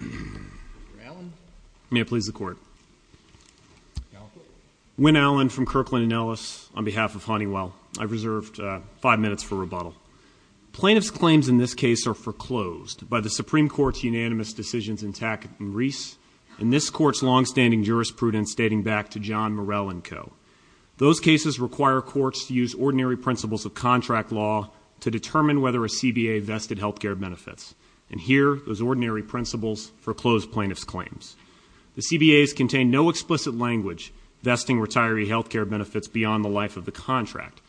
Mr. Allen. May I please the Court? Galliford. Wynne Allen from Kirkland & Ellis on behalf of Honeywell. I've reserved five minutes for rebuttal. Plaintiffs' claims in this case are foreclosed by the Supreme Court's unanimous decisions in Tackett v. Reese and this Court's longstanding jurisprudence dating back to John Morell & Co. Those cases require courts to use ordinary principles of contract law to determine whether a CBA vested health care benefits. And here, those ordinary principles foreclosed plaintiffs' claims. The CBAs contained no explicit language vesting retiree health care benefits beyond the life of the contract.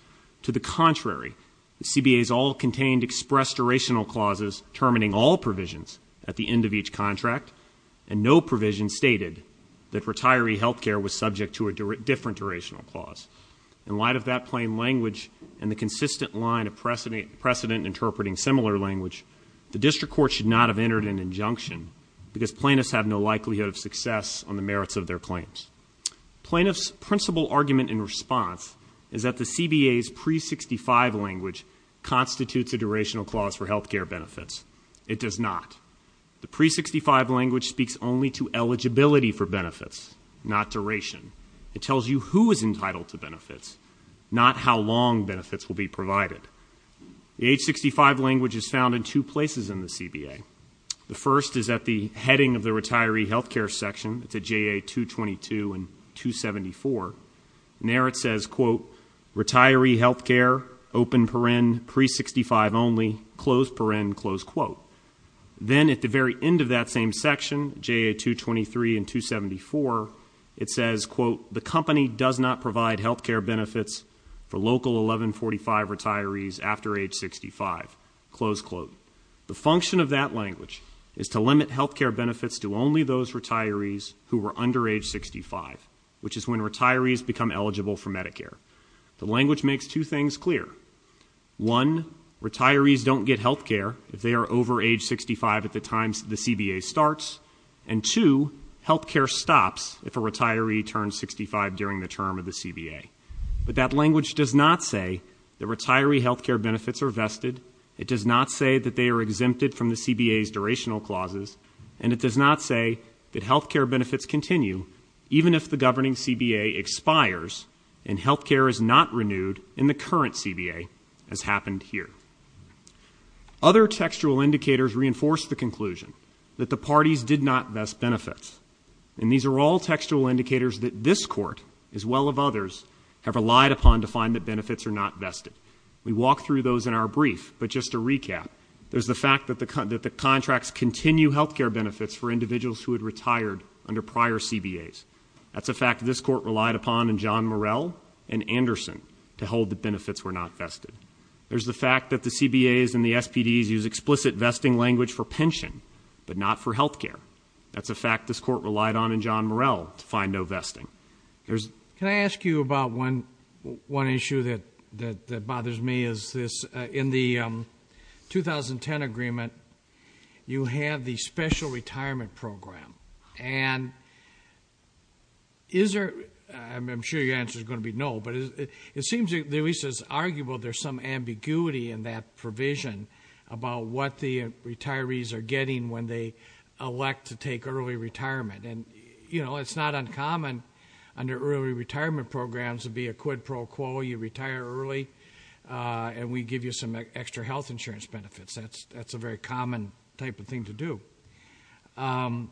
To the contrary, the CBAs all contained expressed durational clauses determining all provisions at the end of each contract, and no provision stated that retiree health care was subject to a different durational clause. In light of that plain language and the consistent line of precedent interpreting similar language, the district court should not have entered an injunction because plaintiffs have no likelihood of success on the merits of their claims. Plaintiffs' principal argument in response is that the CBA's pre-65 language constitutes a durational clause for health care benefits. It does not. The pre-65 language speaks only to eligibility for benefits, not duration. It tells you who is entitled to benefits, not how long benefits will be provided. The H-65 language is found in two places in the CBA. The first is at the heading of the retiree health care section. It's at JA-222 and 274. And there it says, quote, retiree health care, open paren, pre-65 only, close paren, close quote. Then at the very end of that same section, JA-223 and 274, it says, quote, the company does not provide health care benefits for local 1145 retirees after age 65, close quote. The function of that language is to limit health care benefits to only those retirees who are under age 65, which is when retirees become eligible for Medicare. The language makes two things clear. One, retirees don't get health care if they are over age 65 at the time the CBA starts, and two, health care stops if a retiree turns 65 during the term of the CBA. But that language does not say that retiree health care benefits are vested. It does not say that they are exempted from the CBA's durational clauses, and it does not say that health care benefits continue even if the governing CBA expires and health care is not renewed in the current CBA, as happened here. Other textual indicators reinforce the conclusion that the parties did not vest benefits, and these are all textual indicators that this Court, as well as others, have relied upon to find that benefits are not vested. We walk through those in our brief, but just to recap, there's the fact that the contracts continue health care benefits for individuals who had retired under prior CBAs. That's a fact this Court relied upon in John Morell and Anderson to hold that benefits were not vested. There's the fact that the CBAs and the SPDs use explicit vesting language for pension, but not for health care. That's a fact this Court relied on in John Morell to find no vesting. Can I ask you about one issue that bothers me? In the 2010 agreement, you have the special retirement program. And is there, I'm sure your answer is going to be no, but it seems at least it's arguable there's some ambiguity in that provision about what the retirees are getting when they elect to take early retirement. It's not uncommon under early retirement programs to be a quid pro quo. You retire early, and we give you some extra health insurance benefits. That's a very common type of thing to do. And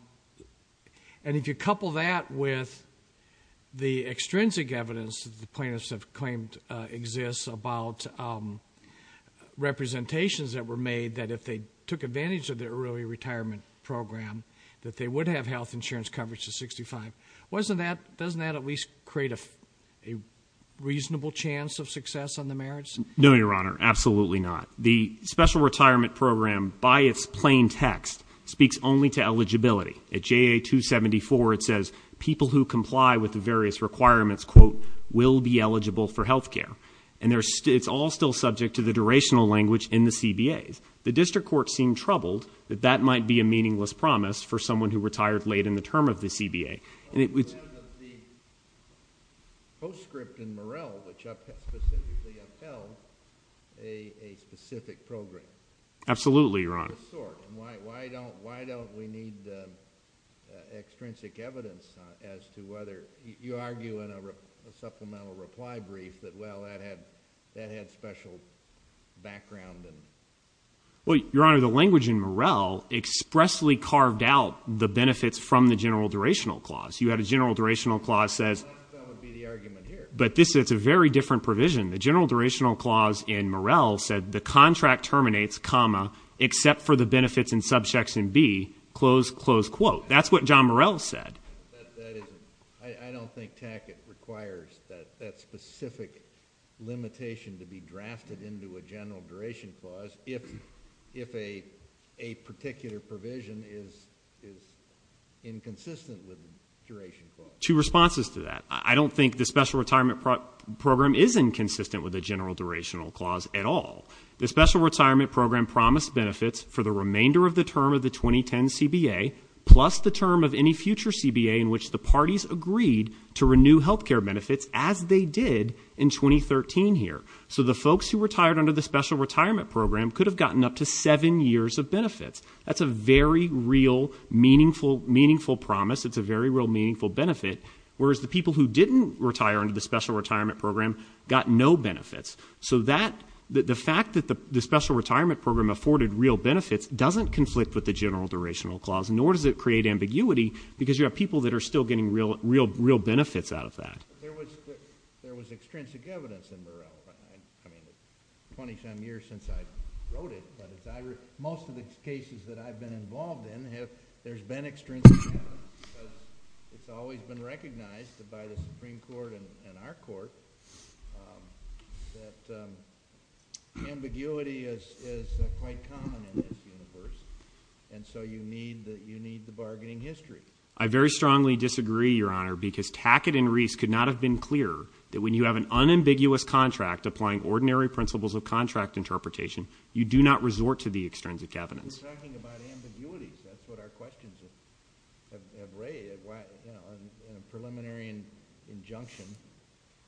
if you couple that with the extrinsic evidence that the plaintiffs have claimed exists about representations that were made that if they took advantage of the early retirement program that they would have health insurance coverage to 65, doesn't that at least create a reasonable chance of success on the merits? No, Your Honor, absolutely not. The special retirement program, by its plain text, speaks only to eligibility. At JA 274 it says people who comply with the various requirements, quote, will be eligible for health care. And it's all still subject to the durational language in the CBAs. The District Court seemed troubled that that might be a meaningless promise for someone who retired late in the term of the CBA. The postscript in Morrell, which specifically upheld a specific program. Absolutely, Your Honor. Why don't we need extrinsic evidence as to whether you argue in a supplemental reply brief that, well, that had special background? Well, Your Honor, the language in Morrell expressly carved out the benefits from the general durational clause. You had a general durational clause that says. That would be the argument here. But it's a very different provision. The general durational clause in Morrell said the contract terminates, comma, except for the benefits and subchecks in B, close, close, quote. That's what John Morrell said. That isn't. I don't think Tackett requires that specific limitation to be drafted into a general duration clause if a particular provision is inconsistent with the duration clause. Two responses to that. I don't think the special retirement program is inconsistent with the general durational clause at all. The special retirement program promised benefits for the remainder of the term of the 2010 CBA plus the term of any future CBA in which the parties agreed to renew health care benefits as they did in 2013 here. So the folks who retired under the special retirement program could have gotten up to seven years of benefits. That's a very real, meaningful promise. It's a very real, meaningful benefit. Whereas the people who didn't retire under the special retirement program got no benefits. So the fact that the special retirement program afforded real benefits doesn't conflict with the general durational clause, nor does it create ambiguity because you have people that are still getting real benefits out of that. There was extrinsic evidence in Burrell. I mean, it's 20-some years since I wrote it, but most of the cases that I've been involved in, there's been extrinsic evidence. It's always been recognized by the Supreme Court and our court that ambiguity is quite common in this universe, and so you need the bargaining history. I very strongly disagree, Your Honor, because Tackett and Reese could not have been clearer that when you have an unambiguous contract applying ordinary principles of contract interpretation, you do not resort to the extrinsic evidence. We're talking about ambiguities. That's what our questions have raised in a preliminary injunction.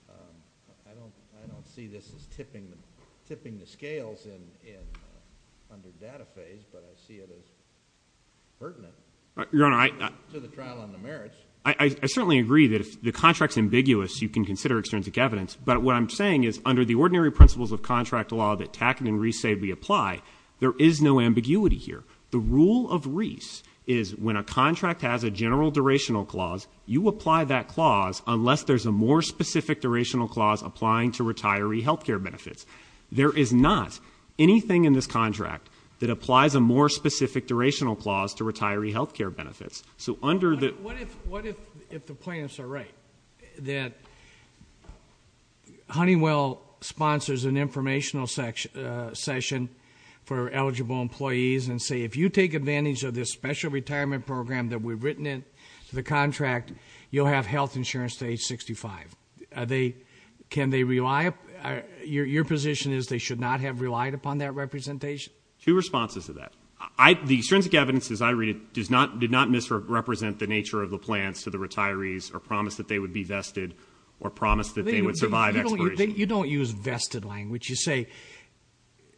I don't see this as tipping the scales under the data phase, but I see it as pertinent. Your Honor, I certainly agree that if the contract's ambiguous, you can consider extrinsic evidence, but what I'm saying is under the ordinary principles of contract law that Tackett and Reese say we apply, there is no ambiguity here. The rule of Reese is when a contract has a general durational clause, you apply that clause unless there's a more specific durational clause applying to retiree health care benefits. There is not anything in this contract that applies a more specific durational clause to retiree health care benefits. What if the plaintiffs are right, that Honeywell sponsors an informational session for eligible employees and say if you take advantage of this special retirement program that we've written into the contract, you'll have health insurance to age 65? Your position is they should not have relied upon that representation? Two responses to that. The extrinsic evidence, as I read it, did not misrepresent the nature of the plans to the retirees or promise that they would be vested or promise that they would survive expiration. You don't use vested language. You say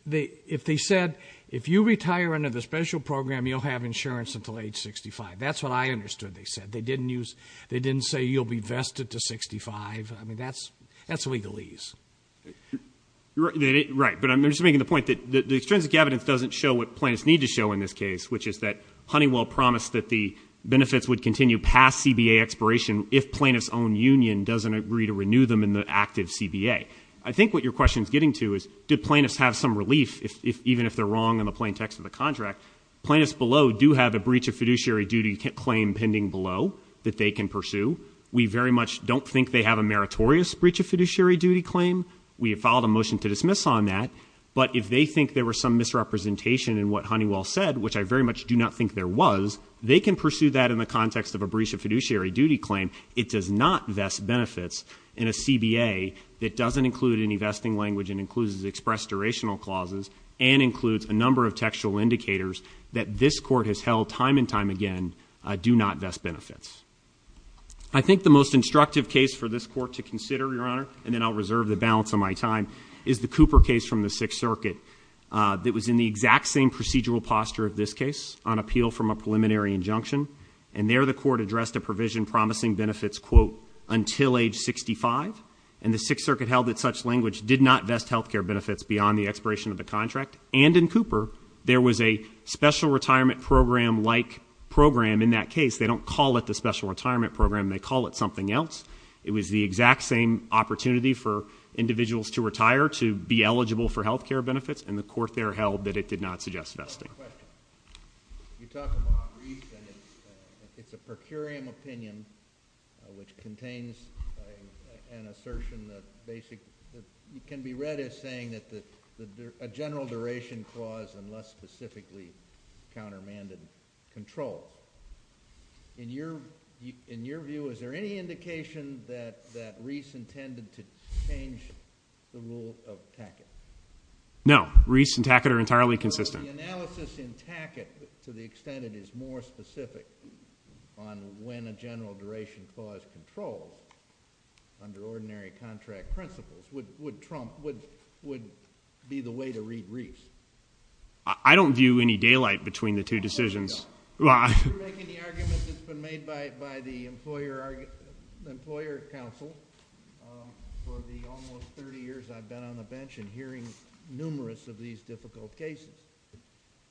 if they said if you retire under the special program, you'll have insurance until age 65. That's what I understood they said. They didn't say you'll be vested to 65. I mean, that's legalese. Right, but I'm just making the point that the extrinsic evidence doesn't show what plaintiffs need to show in this case, which is that Honeywell promised that the benefits would continue past CBA expiration if plaintiffs' own union doesn't agree to renew them in the active CBA. I think what your question is getting to is did plaintiffs have some relief, even if they're wrong in the plain text of the contract? Plaintiffs below do have a breach of fiduciary duty claim pending below that they can pursue. We very much don't think they have a meritorious breach of fiduciary duty claim. We have filed a motion to dismiss on that. But if they think there was some misrepresentation in what Honeywell said, which I very much do not think there was, they can pursue that in the context of a breach of fiduciary duty claim. It does not vest benefits in a CBA that doesn't include any vesting language and includes expressed durational clauses and includes a number of textual indicators that this Court has held time and time again do not vest benefits. I think the most instructive case for this Court to consider, Your Honor, and then I'll reserve the balance of my time, is the Cooper case from the Sixth Circuit that was in the exact same procedural posture of this case on appeal from a preliminary injunction, and there the Court addressed a provision promising benefits, quote, until age 65, and the Sixth Circuit held that such language did not vest health care benefits beyond the expiration of the contract. And in Cooper, there was a special retirement program-like program in that case. They don't call it the special retirement program. They call it something else. It was the exact same opportunity for individuals to retire to be eligible for health care benefits, and the Court there held that it did not suggest vesting. You talk about Reese, and it's a per curiam opinion, which contains an assertion that can be read as saying that a general duration clause unless specifically countermanded control. In your view, is there any indication that Reese intended to change the rule of Tackett? No. Reese and Tackett are entirely consistent. If the analysis in Tackett to the extent it is more specific on when a general duration clause is controlled under ordinary contract principles, would Trump be the way to read Reese? I don't view any daylight between the two decisions. You're making the argument that's been made by the Employer Council. For the almost 30 years I've been on the bench and hearing numerous of these difficult cases,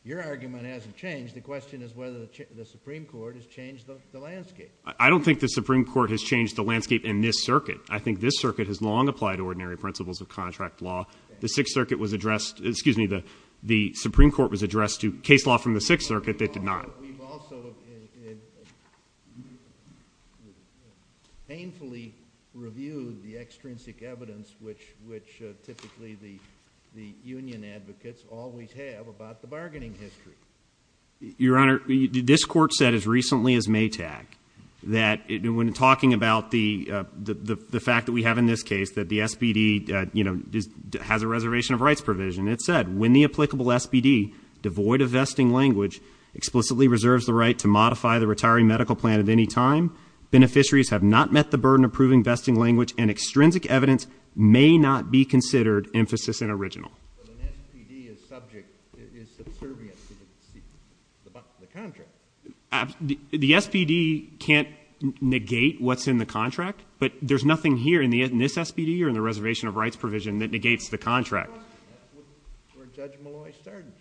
your argument hasn't changed. The question is whether the Supreme Court has changed the landscape. I don't think the Supreme Court has changed the landscape in this circuit. I think this circuit has long applied ordinary principles of contract law. The Sixth Circuit was addressed to case law from the Sixth Circuit that did not. We've also painfully reviewed the extrinsic evidence which typically the union advocates always have about the bargaining history. Your Honor, this Court said as recently as Maytag that when talking about the fact that we have in this case that the SPD has a reservation of rights provision, it said, when the applicable SPD, devoid of vesting language, explicitly reserves the right to modify the retiring medical plan at any time, beneficiaries have not met the burden of proving vesting language and extrinsic evidence may not be considered emphasis in original. But an SPD is subject, is subservient to the contract. The SPD can't negate what's in the contract, but there's nothing here in this SPD or in the reservation of rights provision that negates the contract. That's where Judge Molloy started.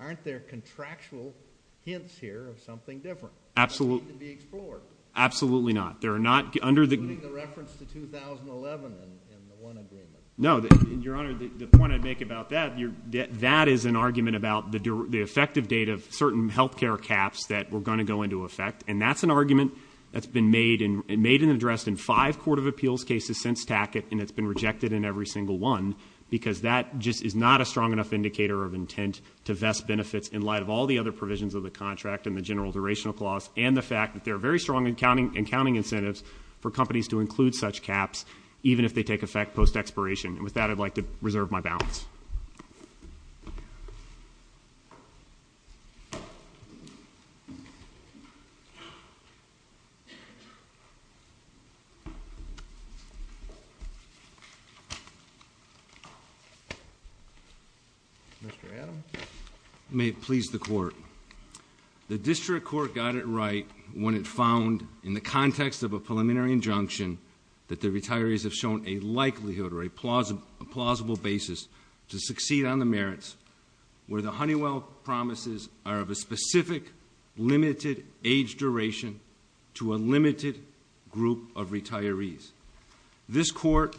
Aren't there contractual hints here of something different? Absolutely not. Including the reference to 2011 in the one agreement. No, Your Honor, the point I'd make about that, that is an argument about the effective date of certain health care caps that were going to go into effect, and that's an argument that's been made and addressed in five court of appeals cases since Tackett, and it's been rejected in every single one, because that just is not a strong enough indicator of intent to vest benefits in light of all the other provisions of the contract and the general durational clause, and the fact that there are very strong and counting incentives for companies to include such caps, even if they take effect post-expiration. And with that, I'd like to reserve my balance. Mr. Adams? May it please the Court. The district court got it right when it found, in the context of a preliminary injunction, that the retirees have shown a likelihood or a plausible basis to succeed on the merits where the Honeywell promises are of a specific limited age duration to a limited group of retirees. This Court,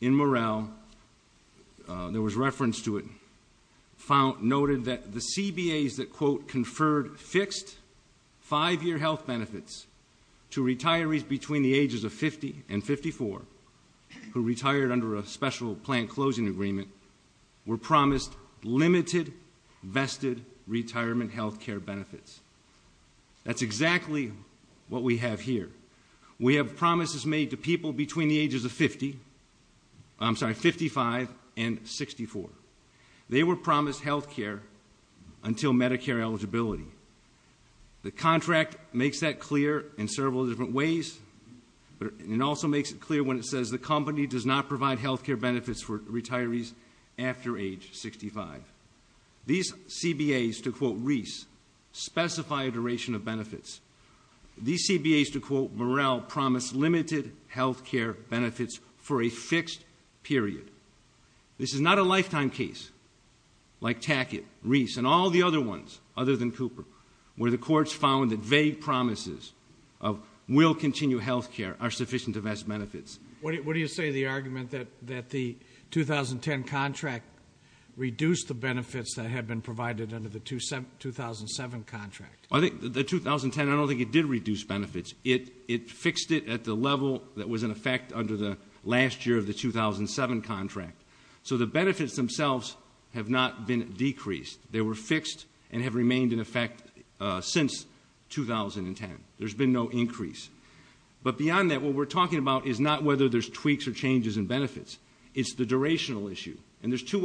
in morale, there was reference to it, the district court conferred fixed five-year health benefits to retirees between the ages of 50 and 54 who retired under a special plan closing agreement were promised limited vested retirement health care benefits. That's exactly what we have here. We have promises made to people between the ages of 50, I'm sorry, between 55 and 64. They were promised health care until Medicare eligibility. The contract makes that clear in several different ways, but it also makes it clear when it says the company does not provide health care benefits for retirees after age 65. These CBAs, to quote Reese, specify a duration of benefits. These CBAs, to quote Reese, provide limited health care benefits for a fixed period. This is not a lifetime case like Tackett, Reese, and all the other ones other than Cooper where the courts found that vague promises of will continue health care are sufficient to vest benefits. What do you say to the argument that the 2010 contract reduced the benefits that had been provided under the 2007 contract? I think the 2010, I don't think it did reduce benefits. It fixed it at the level that was in effect under the last year of the 2007 contract. So the benefits themselves have not been decreased. They were fixed and have remained in effect since 2010. There's been no increase. But beyond that, what we're talking about is not whether there's tweaks or changes in benefits. It's the durational issue. And there's two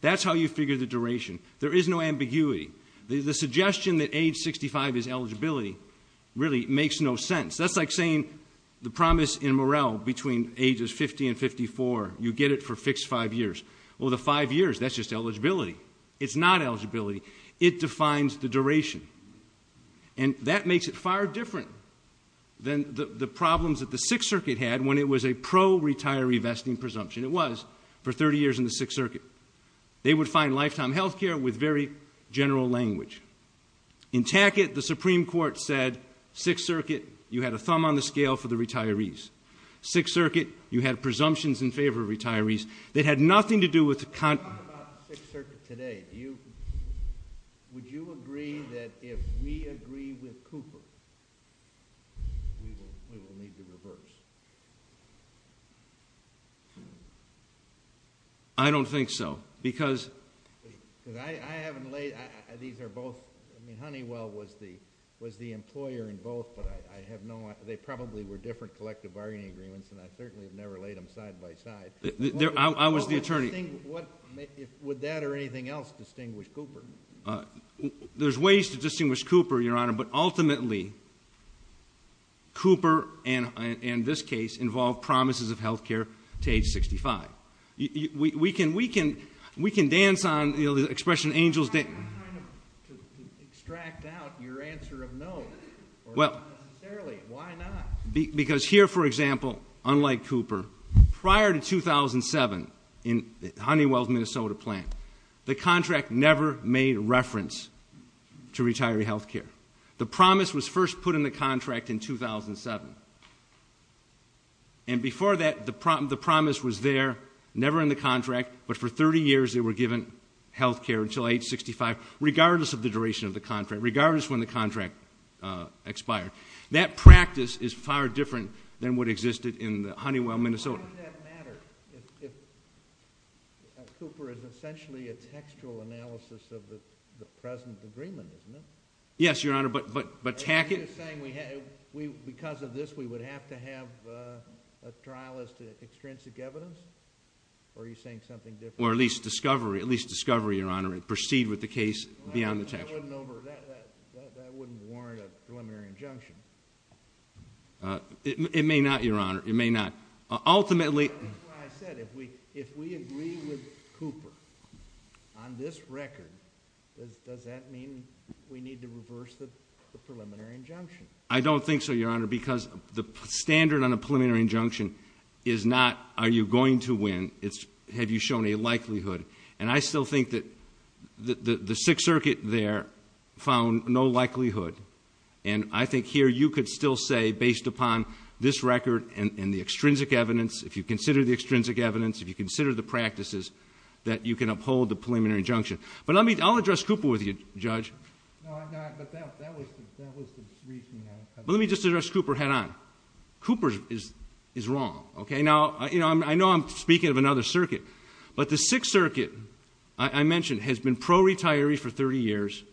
That's how you figure the duration. There is no ambiguity. The suggestion that age 65 is eligibility really makes no sense. That's like saying the promise in morale between ages 50 and 54, you get it for fixed five years. Well, the five years, that's just eligibility. It's not eligibility. It defines the duration. And that makes it far different than the problems that the Sixth Circuit had when it was a pro-retiree vesting presumption. It was for 30 years in the Sixth Circuit. They would find lifetime health care with very general language. In Tackett, the Supreme Court said, Sixth Circuit, you had a thumb on the scale for the retirees. Sixth Circuit, you had presumptions in favor of retirees that had nothing to do with the Sixth Circuit today. Would you agree that if we had a thumb on the scale for retirees, we would have a thumb on the scale for retirees? I don't think so. Honeywell was the employer in both, but I have no... They probably were different collective bargaining agreements, and I certainly have never laid them side-by-side. I was the attorney. Would that or anything else distinguish Cooper? There's ways to distinguish Cooper, Your Honor, but ultimately, Cooper and this case involve promises of health care to age 65. We can dance on the expression angels dance. How do you extract out your answer of no? Why not? Because here, for example, unlike Cooper, prior to 2007 in Honeywell's Minnesota plant, the contract never made reference to retiree health care. The promise was first put in the contract in 2007. And before that, the promise was there, never in the contract, but for 30 years they were given health care until age 65, regardless of the duration of the contract, regardless of when the contract expired. That practice is far different than what existed in Honeywell, Minnesota. Cooper is essentially a textual analysis of the present agreement, isn't it? Yes, Your Honor, but Tackett... Because of this, we would have to have a trial as to extrinsic evidence? Or are you saying something different? Or at least discovery, Your Honor, and proceed with the case beyond the textual. That wouldn't warrant a preliminary injunction. It may not, Your Honor. Ultimately... That's why I said, if we agree with Cooper on this record, does that mean we need to reverse the preliminary injunction? I don't think so, Your Honor, because the standard on a preliminary injunction is not are you going to win, it's have you shown a likelihood. And I still think that the Sixth Circuit there found no likelihood. And I think here you could still say, based upon this record and the extrinsic evidence, if you consider the extrinsic evidence, if you consider the practices, that you can uphold the preliminary injunction. But I'll address Cooper with you, Judge. Let me just address Cooper head-on. Cooper is wrong. Now, I know I'm speaking of another circuit. But the Sixth Circuit, I mentioned, has been pro-retiree for 30 years.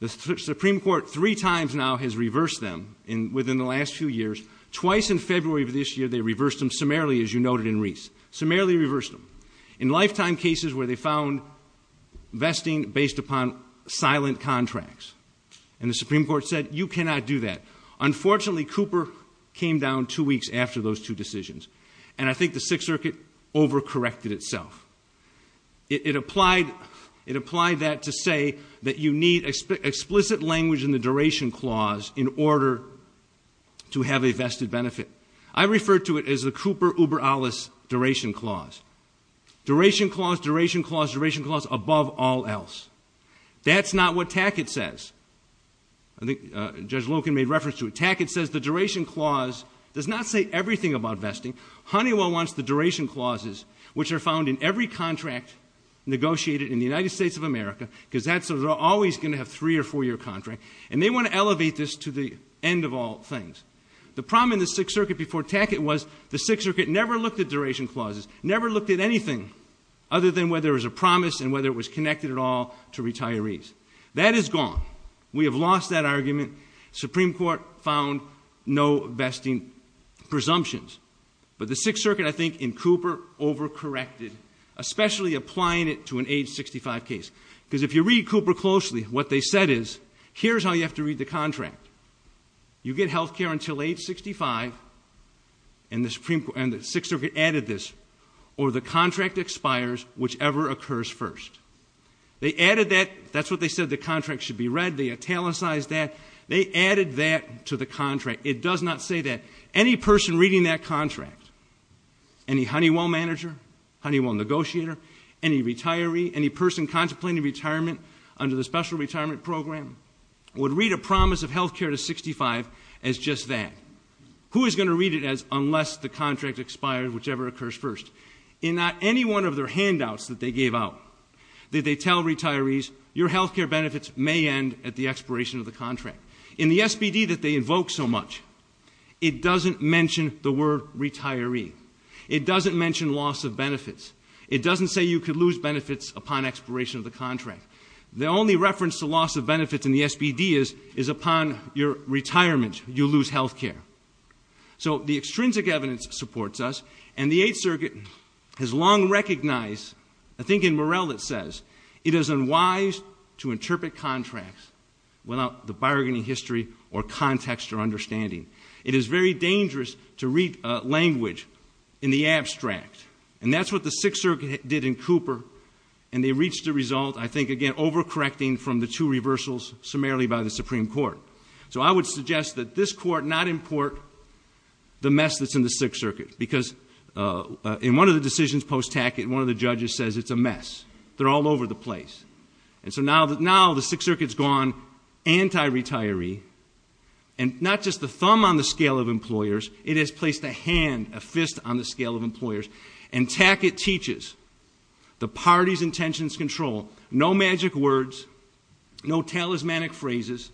The Supreme Court three times now has reversed them within the last few years. Twice in February of this year, they reversed them summarily, as you noted in Reese. Summarily reversed them. In lifetime cases where they found vesting based upon silent contracts. And the Supreme Court said, you cannot do that. Unfortunately, Cooper came down two weeks after those two decisions. And I think the Sixth Circuit over-corrected itself. It applied that to say that you need explicit language in the duration clause in order to have a vested benefit. I refer to it as the Cooper-Uber-Allis duration clause. Duration clause, duration clause, duration clause, above all else. That's not what Tackett says. I think Judge Loken made reference to it. Tackett says the duration clause does not say everything about vesting. Honeywell wants the duration clauses, which are found in every contract negotiated in the United States of America, because they're always going to have a three- or four-year contract. And they want to elevate this to the end of all things. The problem in the Sixth Circuit before Tackett was the Sixth Circuit never looked at duration clauses, never looked at anything other than whether it was a promise and whether it was connected at all to retirees. That is gone. We have lost that argument. Supreme Court found no vesting presumptions. But the Sixth Circuit, I think, in Cooper, over-corrected, especially applying it to an age 65 case. Because if you read Cooper closely, what they said is, here's how you have to read the contract. You get health care until age 65, and the Sixth Circuit added this, or the contract expires, whichever occurs first. They added that. That's what they said, the contract should be read. They italicized that. They added that to the contract. It does not say that. Any person reading that contract, any Honeywell manager, Honeywell negotiator, any retiree, any person contemplating retirement under the Special Retirement Program, would read a promise of health care to 65 as just that. Who is going to read it as unless the contract expires, whichever occurs first? In not any one of their handouts that they gave out, did they tell retirees, your health care benefits may end at the expiration of the contract? In the SBD that they invoke so much, it doesn't mention the word retiree. It doesn't mention loss of benefits. It doesn't say you could lose benefits upon expiration of the contract. The only reference to loss of benefits in the SBD is upon your retirement, you lose health care. So the extrinsic evidence supports us, and the Eighth Circuit has long recognized, I think in Morrell it says, it is unwise to interpret contracts without the bargaining history or context or understanding. It is very dangerous to read language in the abstract. And that's what the Sixth Circuit did in Cooper, and they reached a result, I think again, overcorrecting from the two reversals summarily by the Supreme Court. So I would suggest that this Court not import the mess that's in the Sixth Circuit. Because in one of the decisions post-Tackett, one of the judges says it's a mess. They're all over the place. And so now the Sixth Circuit's gone anti-retiree. And not just the thumb on the scale of employers, it has placed a hand, a fist on the scale of employers. And Tackett teaches the party's intentions control. No magic words, no talismanic phrases.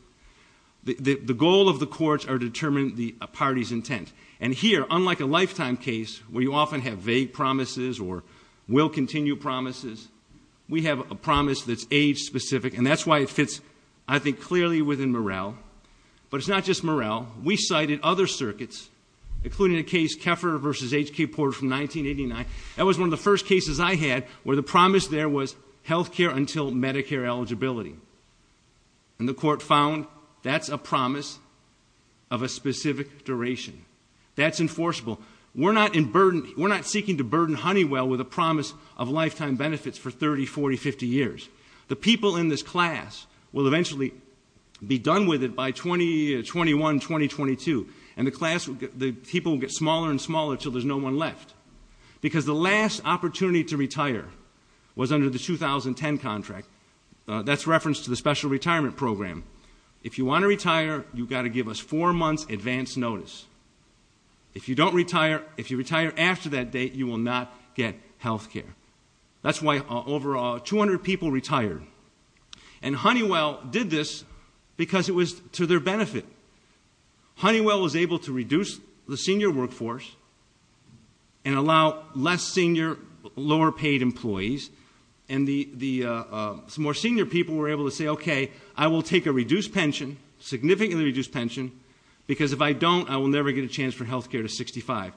The goal of the courts are determined by the party's intent. And here, unlike a lifetime case, where you often have vague promises or will-continue promises, we have a promise that's age-specific. And that's why it fits, I think, clearly within Morrell. But it's not just Morrell. We cited other circuits, including the case Keffer v. H.K. Porter from 1989. That was one of the first cases I had where the promise there was health care until Medicare eligibility. And the court found that's a promise of a specific duration. That's enforceable. We're not seeking to burden Honeywell with a promise of lifetime benefits for 30, 40, 50 years. The people in this class will eventually be done with it by 2021, 2022. And the people will get smaller and smaller until there's no one left. Because the last reference to the special retirement program, if you want to retire, you've got to give us four months advance notice. If you don't retire, if you retire after that date, you will not get health care. That's why over 200 people retired. And Honeywell did this because it was to their benefit. Honeywell was able to reduce the senior workforce and allow less senior, lower paid employees. And the more senior people were able to say, okay, I will take a reduced pension, significantly reduced pension, because if I don't, I will never get a chance for health care to 65.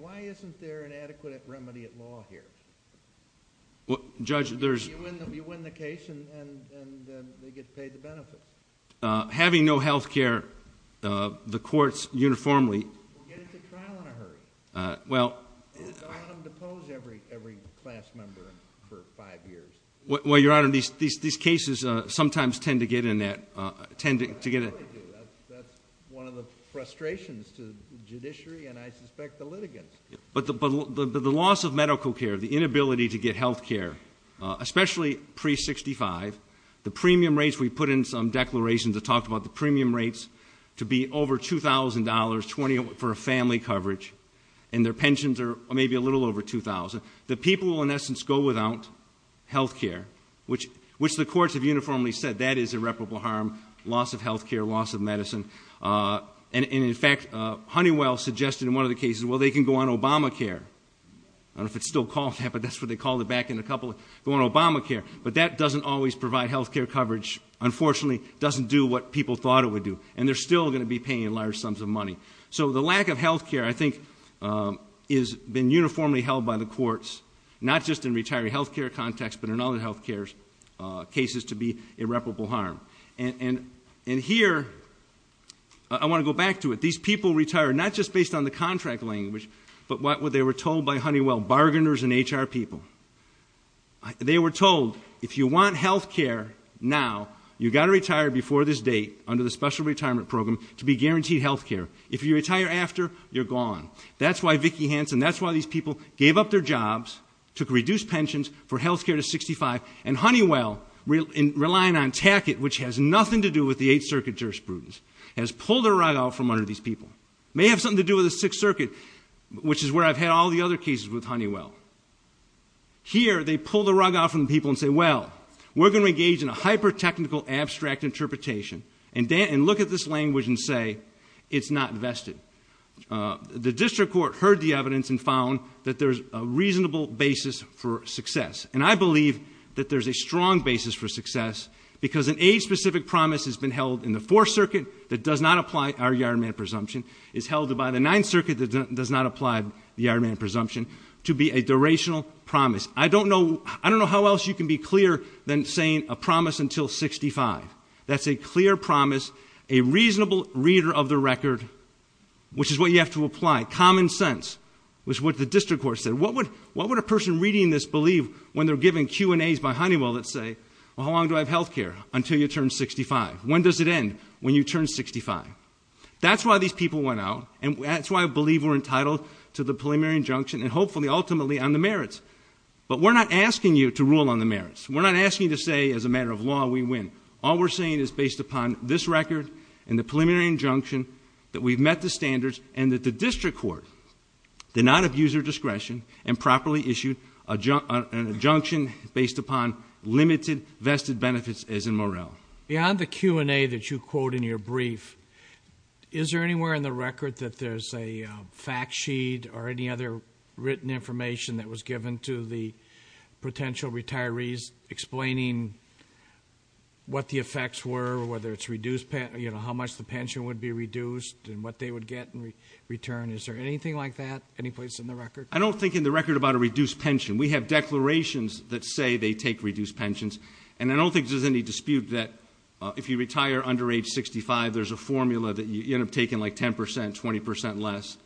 Why isn't there an adequate remedy at law here? You win the case and then they get paid the benefit. We'll get into trial in a hurry. I don't want them to pose every class member for five years. That's what they do. That's one of the frustrations to the judiciary and I suspect the litigants. But the loss of medical care, the inability to get health care, especially pre-65, the premium rates, we put in some declarations that talked about the premium rates to be over $2,000 for a family coverage and their pensions are maybe a little over $2,000. The people will in essence go without health care, which the courts have uniformly said that is irreparable harm, loss of health care, loss of Obamacare. I don't know if it's still called that, but that's what they called it back in a couple of years. But that doesn't always provide health care coverage. Unfortunately, it doesn't do what people thought it would do. And they're still going to be paying large sums of money. So the lack of health care I think has been uniformly held by the courts, not just in retiree health care context, but in other health care cases to be irreparable harm. And here I want to go back to it. These people retire not just based on the contract language, but what they were told by Honeywell, bargainers and HR people. They were told if you want health care now, you've got to retire before this date under the special retirement program to be guaranteed health care. If you retire after, you're gone. That's why Vicki Hanson, that's why these people gave up their jobs, took reduced pensions for health care to 65, and Honeywell relying on TACIT, which has nothing to do with the 8th Circuit jurisprudence, has pulled their rug out from under these people. It may have something to do with the 6th Circuit, which is where I've had all the other cases with Honeywell. Here, they pull the rug out from the people and say, well, we're going to engage in a hyper-technical abstract interpretation, and look at this language and say, it's not vested. The district court heard the evidence and found that there's a reasonable basis for success. And I believe that there's a strong basis for success, because an age-specific promise has been held in the 4th Circuit that does not apply our yard-man presumption. It's held by the 9th Circuit that does not apply the yard-man presumption to be a durational promise. I don't know how else you can be clearer than saying a promise until 65. That's a clear promise, a reasonable reader of the record, which is what you have to apply. Common sense is what the district court said. What would a person reading this believe when they're given Q&As by Honeywell that say, well, how long do I have health care? Until you turn 65. When does it end? When you turn 65. That's why these people went out, and that's why I believe we're entitled to the preliminary injunction, and hopefully, ultimately, on the merits. But we're not asking you to rule on the merits. We're not asking you to say, as a matter of law, we win. All we're saying is, based upon this record and the preliminary injunction, that we've met the standards, and that the district court did not abuse their discretion and properly issued an injunction based upon limited vested benefits, as in morale. Beyond the Q&A that you quote in your brief, is there anywhere in the record that there's a fact sheet or any other written information that was given to the potential retirees explaining what the effects were, whether it's reduced, you know, how much the pension would be reduced and what they would get in return? Is there anything like that? Anyplace in the record? I don't think in the record about a reduced pension. We have declarations that say they take reduced pensions, and I don't think there's any dispute that if you retire under age 65, there's a formula that you end up taking like 10%, 20% less.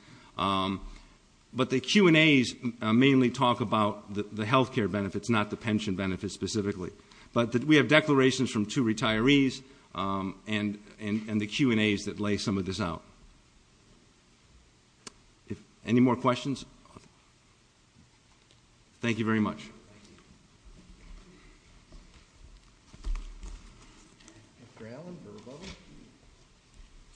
But the Q&As mainly talk about the health care benefits, not the pension benefits specifically. But we have declarations from two retirees and the Q&As that lay some of this out. Any more questions? Thank you very much. Thank you. Mr. Allen, verbal?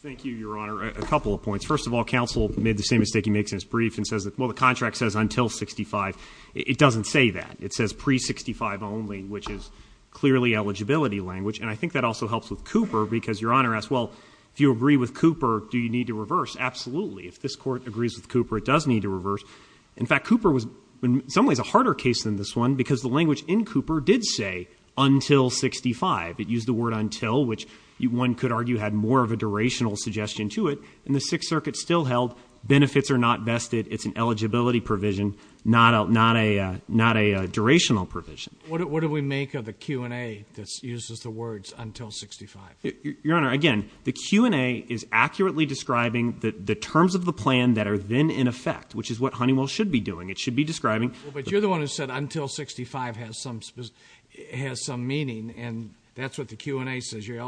Thank you, Your Honor. A couple of points. First of all, counsel made the same mistake he makes in his brief and says that, well, the contract says until 65. It doesn't say that. It says pre-65 only, which is clearly eligibility language. And I think that also helps with Cooper because Your Honor asked, well, if you agree with Cooper, do you need to reverse? Absolutely. If this court agrees with Cooper, it does need to reverse. In fact, Cooper was in some ways a harder case than this one because the language in Cooper did say until 65. It used the word until, which one could argue had more of a durational suggestion to it. And the Sixth Circuit still held benefits are not vested. It's an eligibility provision, not a durational provision. What do we make of the Q&A that uses the words until 65? Your Honor, again, the Q&A is accurately describing the terms of the plan that are then in effect, which is what Honeywell should be doing. It should be describing. But you're the one who said until 65 has some meaning. And that's what the Q&A says. You're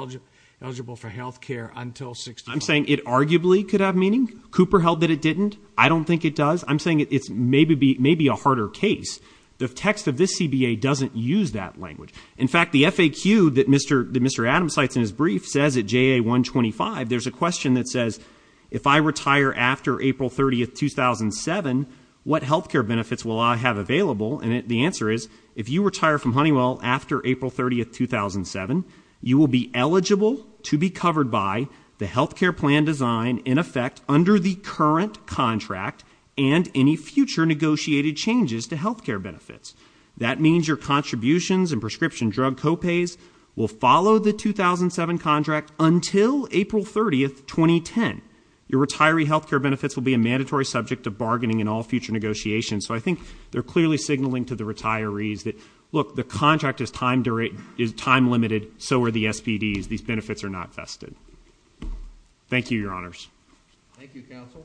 eligible for health care until 65. I'm saying it arguably could have meaning. Cooper held that it didn't. I don't think it does. I'm saying it's maybe a harder case. The text of this CBA doesn't use that language. In fact, the FAQ that Mr. Adams cites in his brief says at JA 125, there's a question that says, if I retire after April 30, 2007, what health care benefits will I have available? And the answer is, if you retire from Honeywell after April 30, 2007, you will be eligible to be covered by the health care plan design in effect under the current contract and any future negotiated changes to health care benefits. That means your contributions and prescription drug co-pays will follow the 2007 contract until April 30, 2010. Your retiree health care benefits will be a mandatory subject of bargaining in all future negotiations. So I think they're clearly signaling to the retirees that, look, the contract is time-limited, so for the SPDs, these benefits are not vested. Thank you, Your Honors. Thank you, Counsel.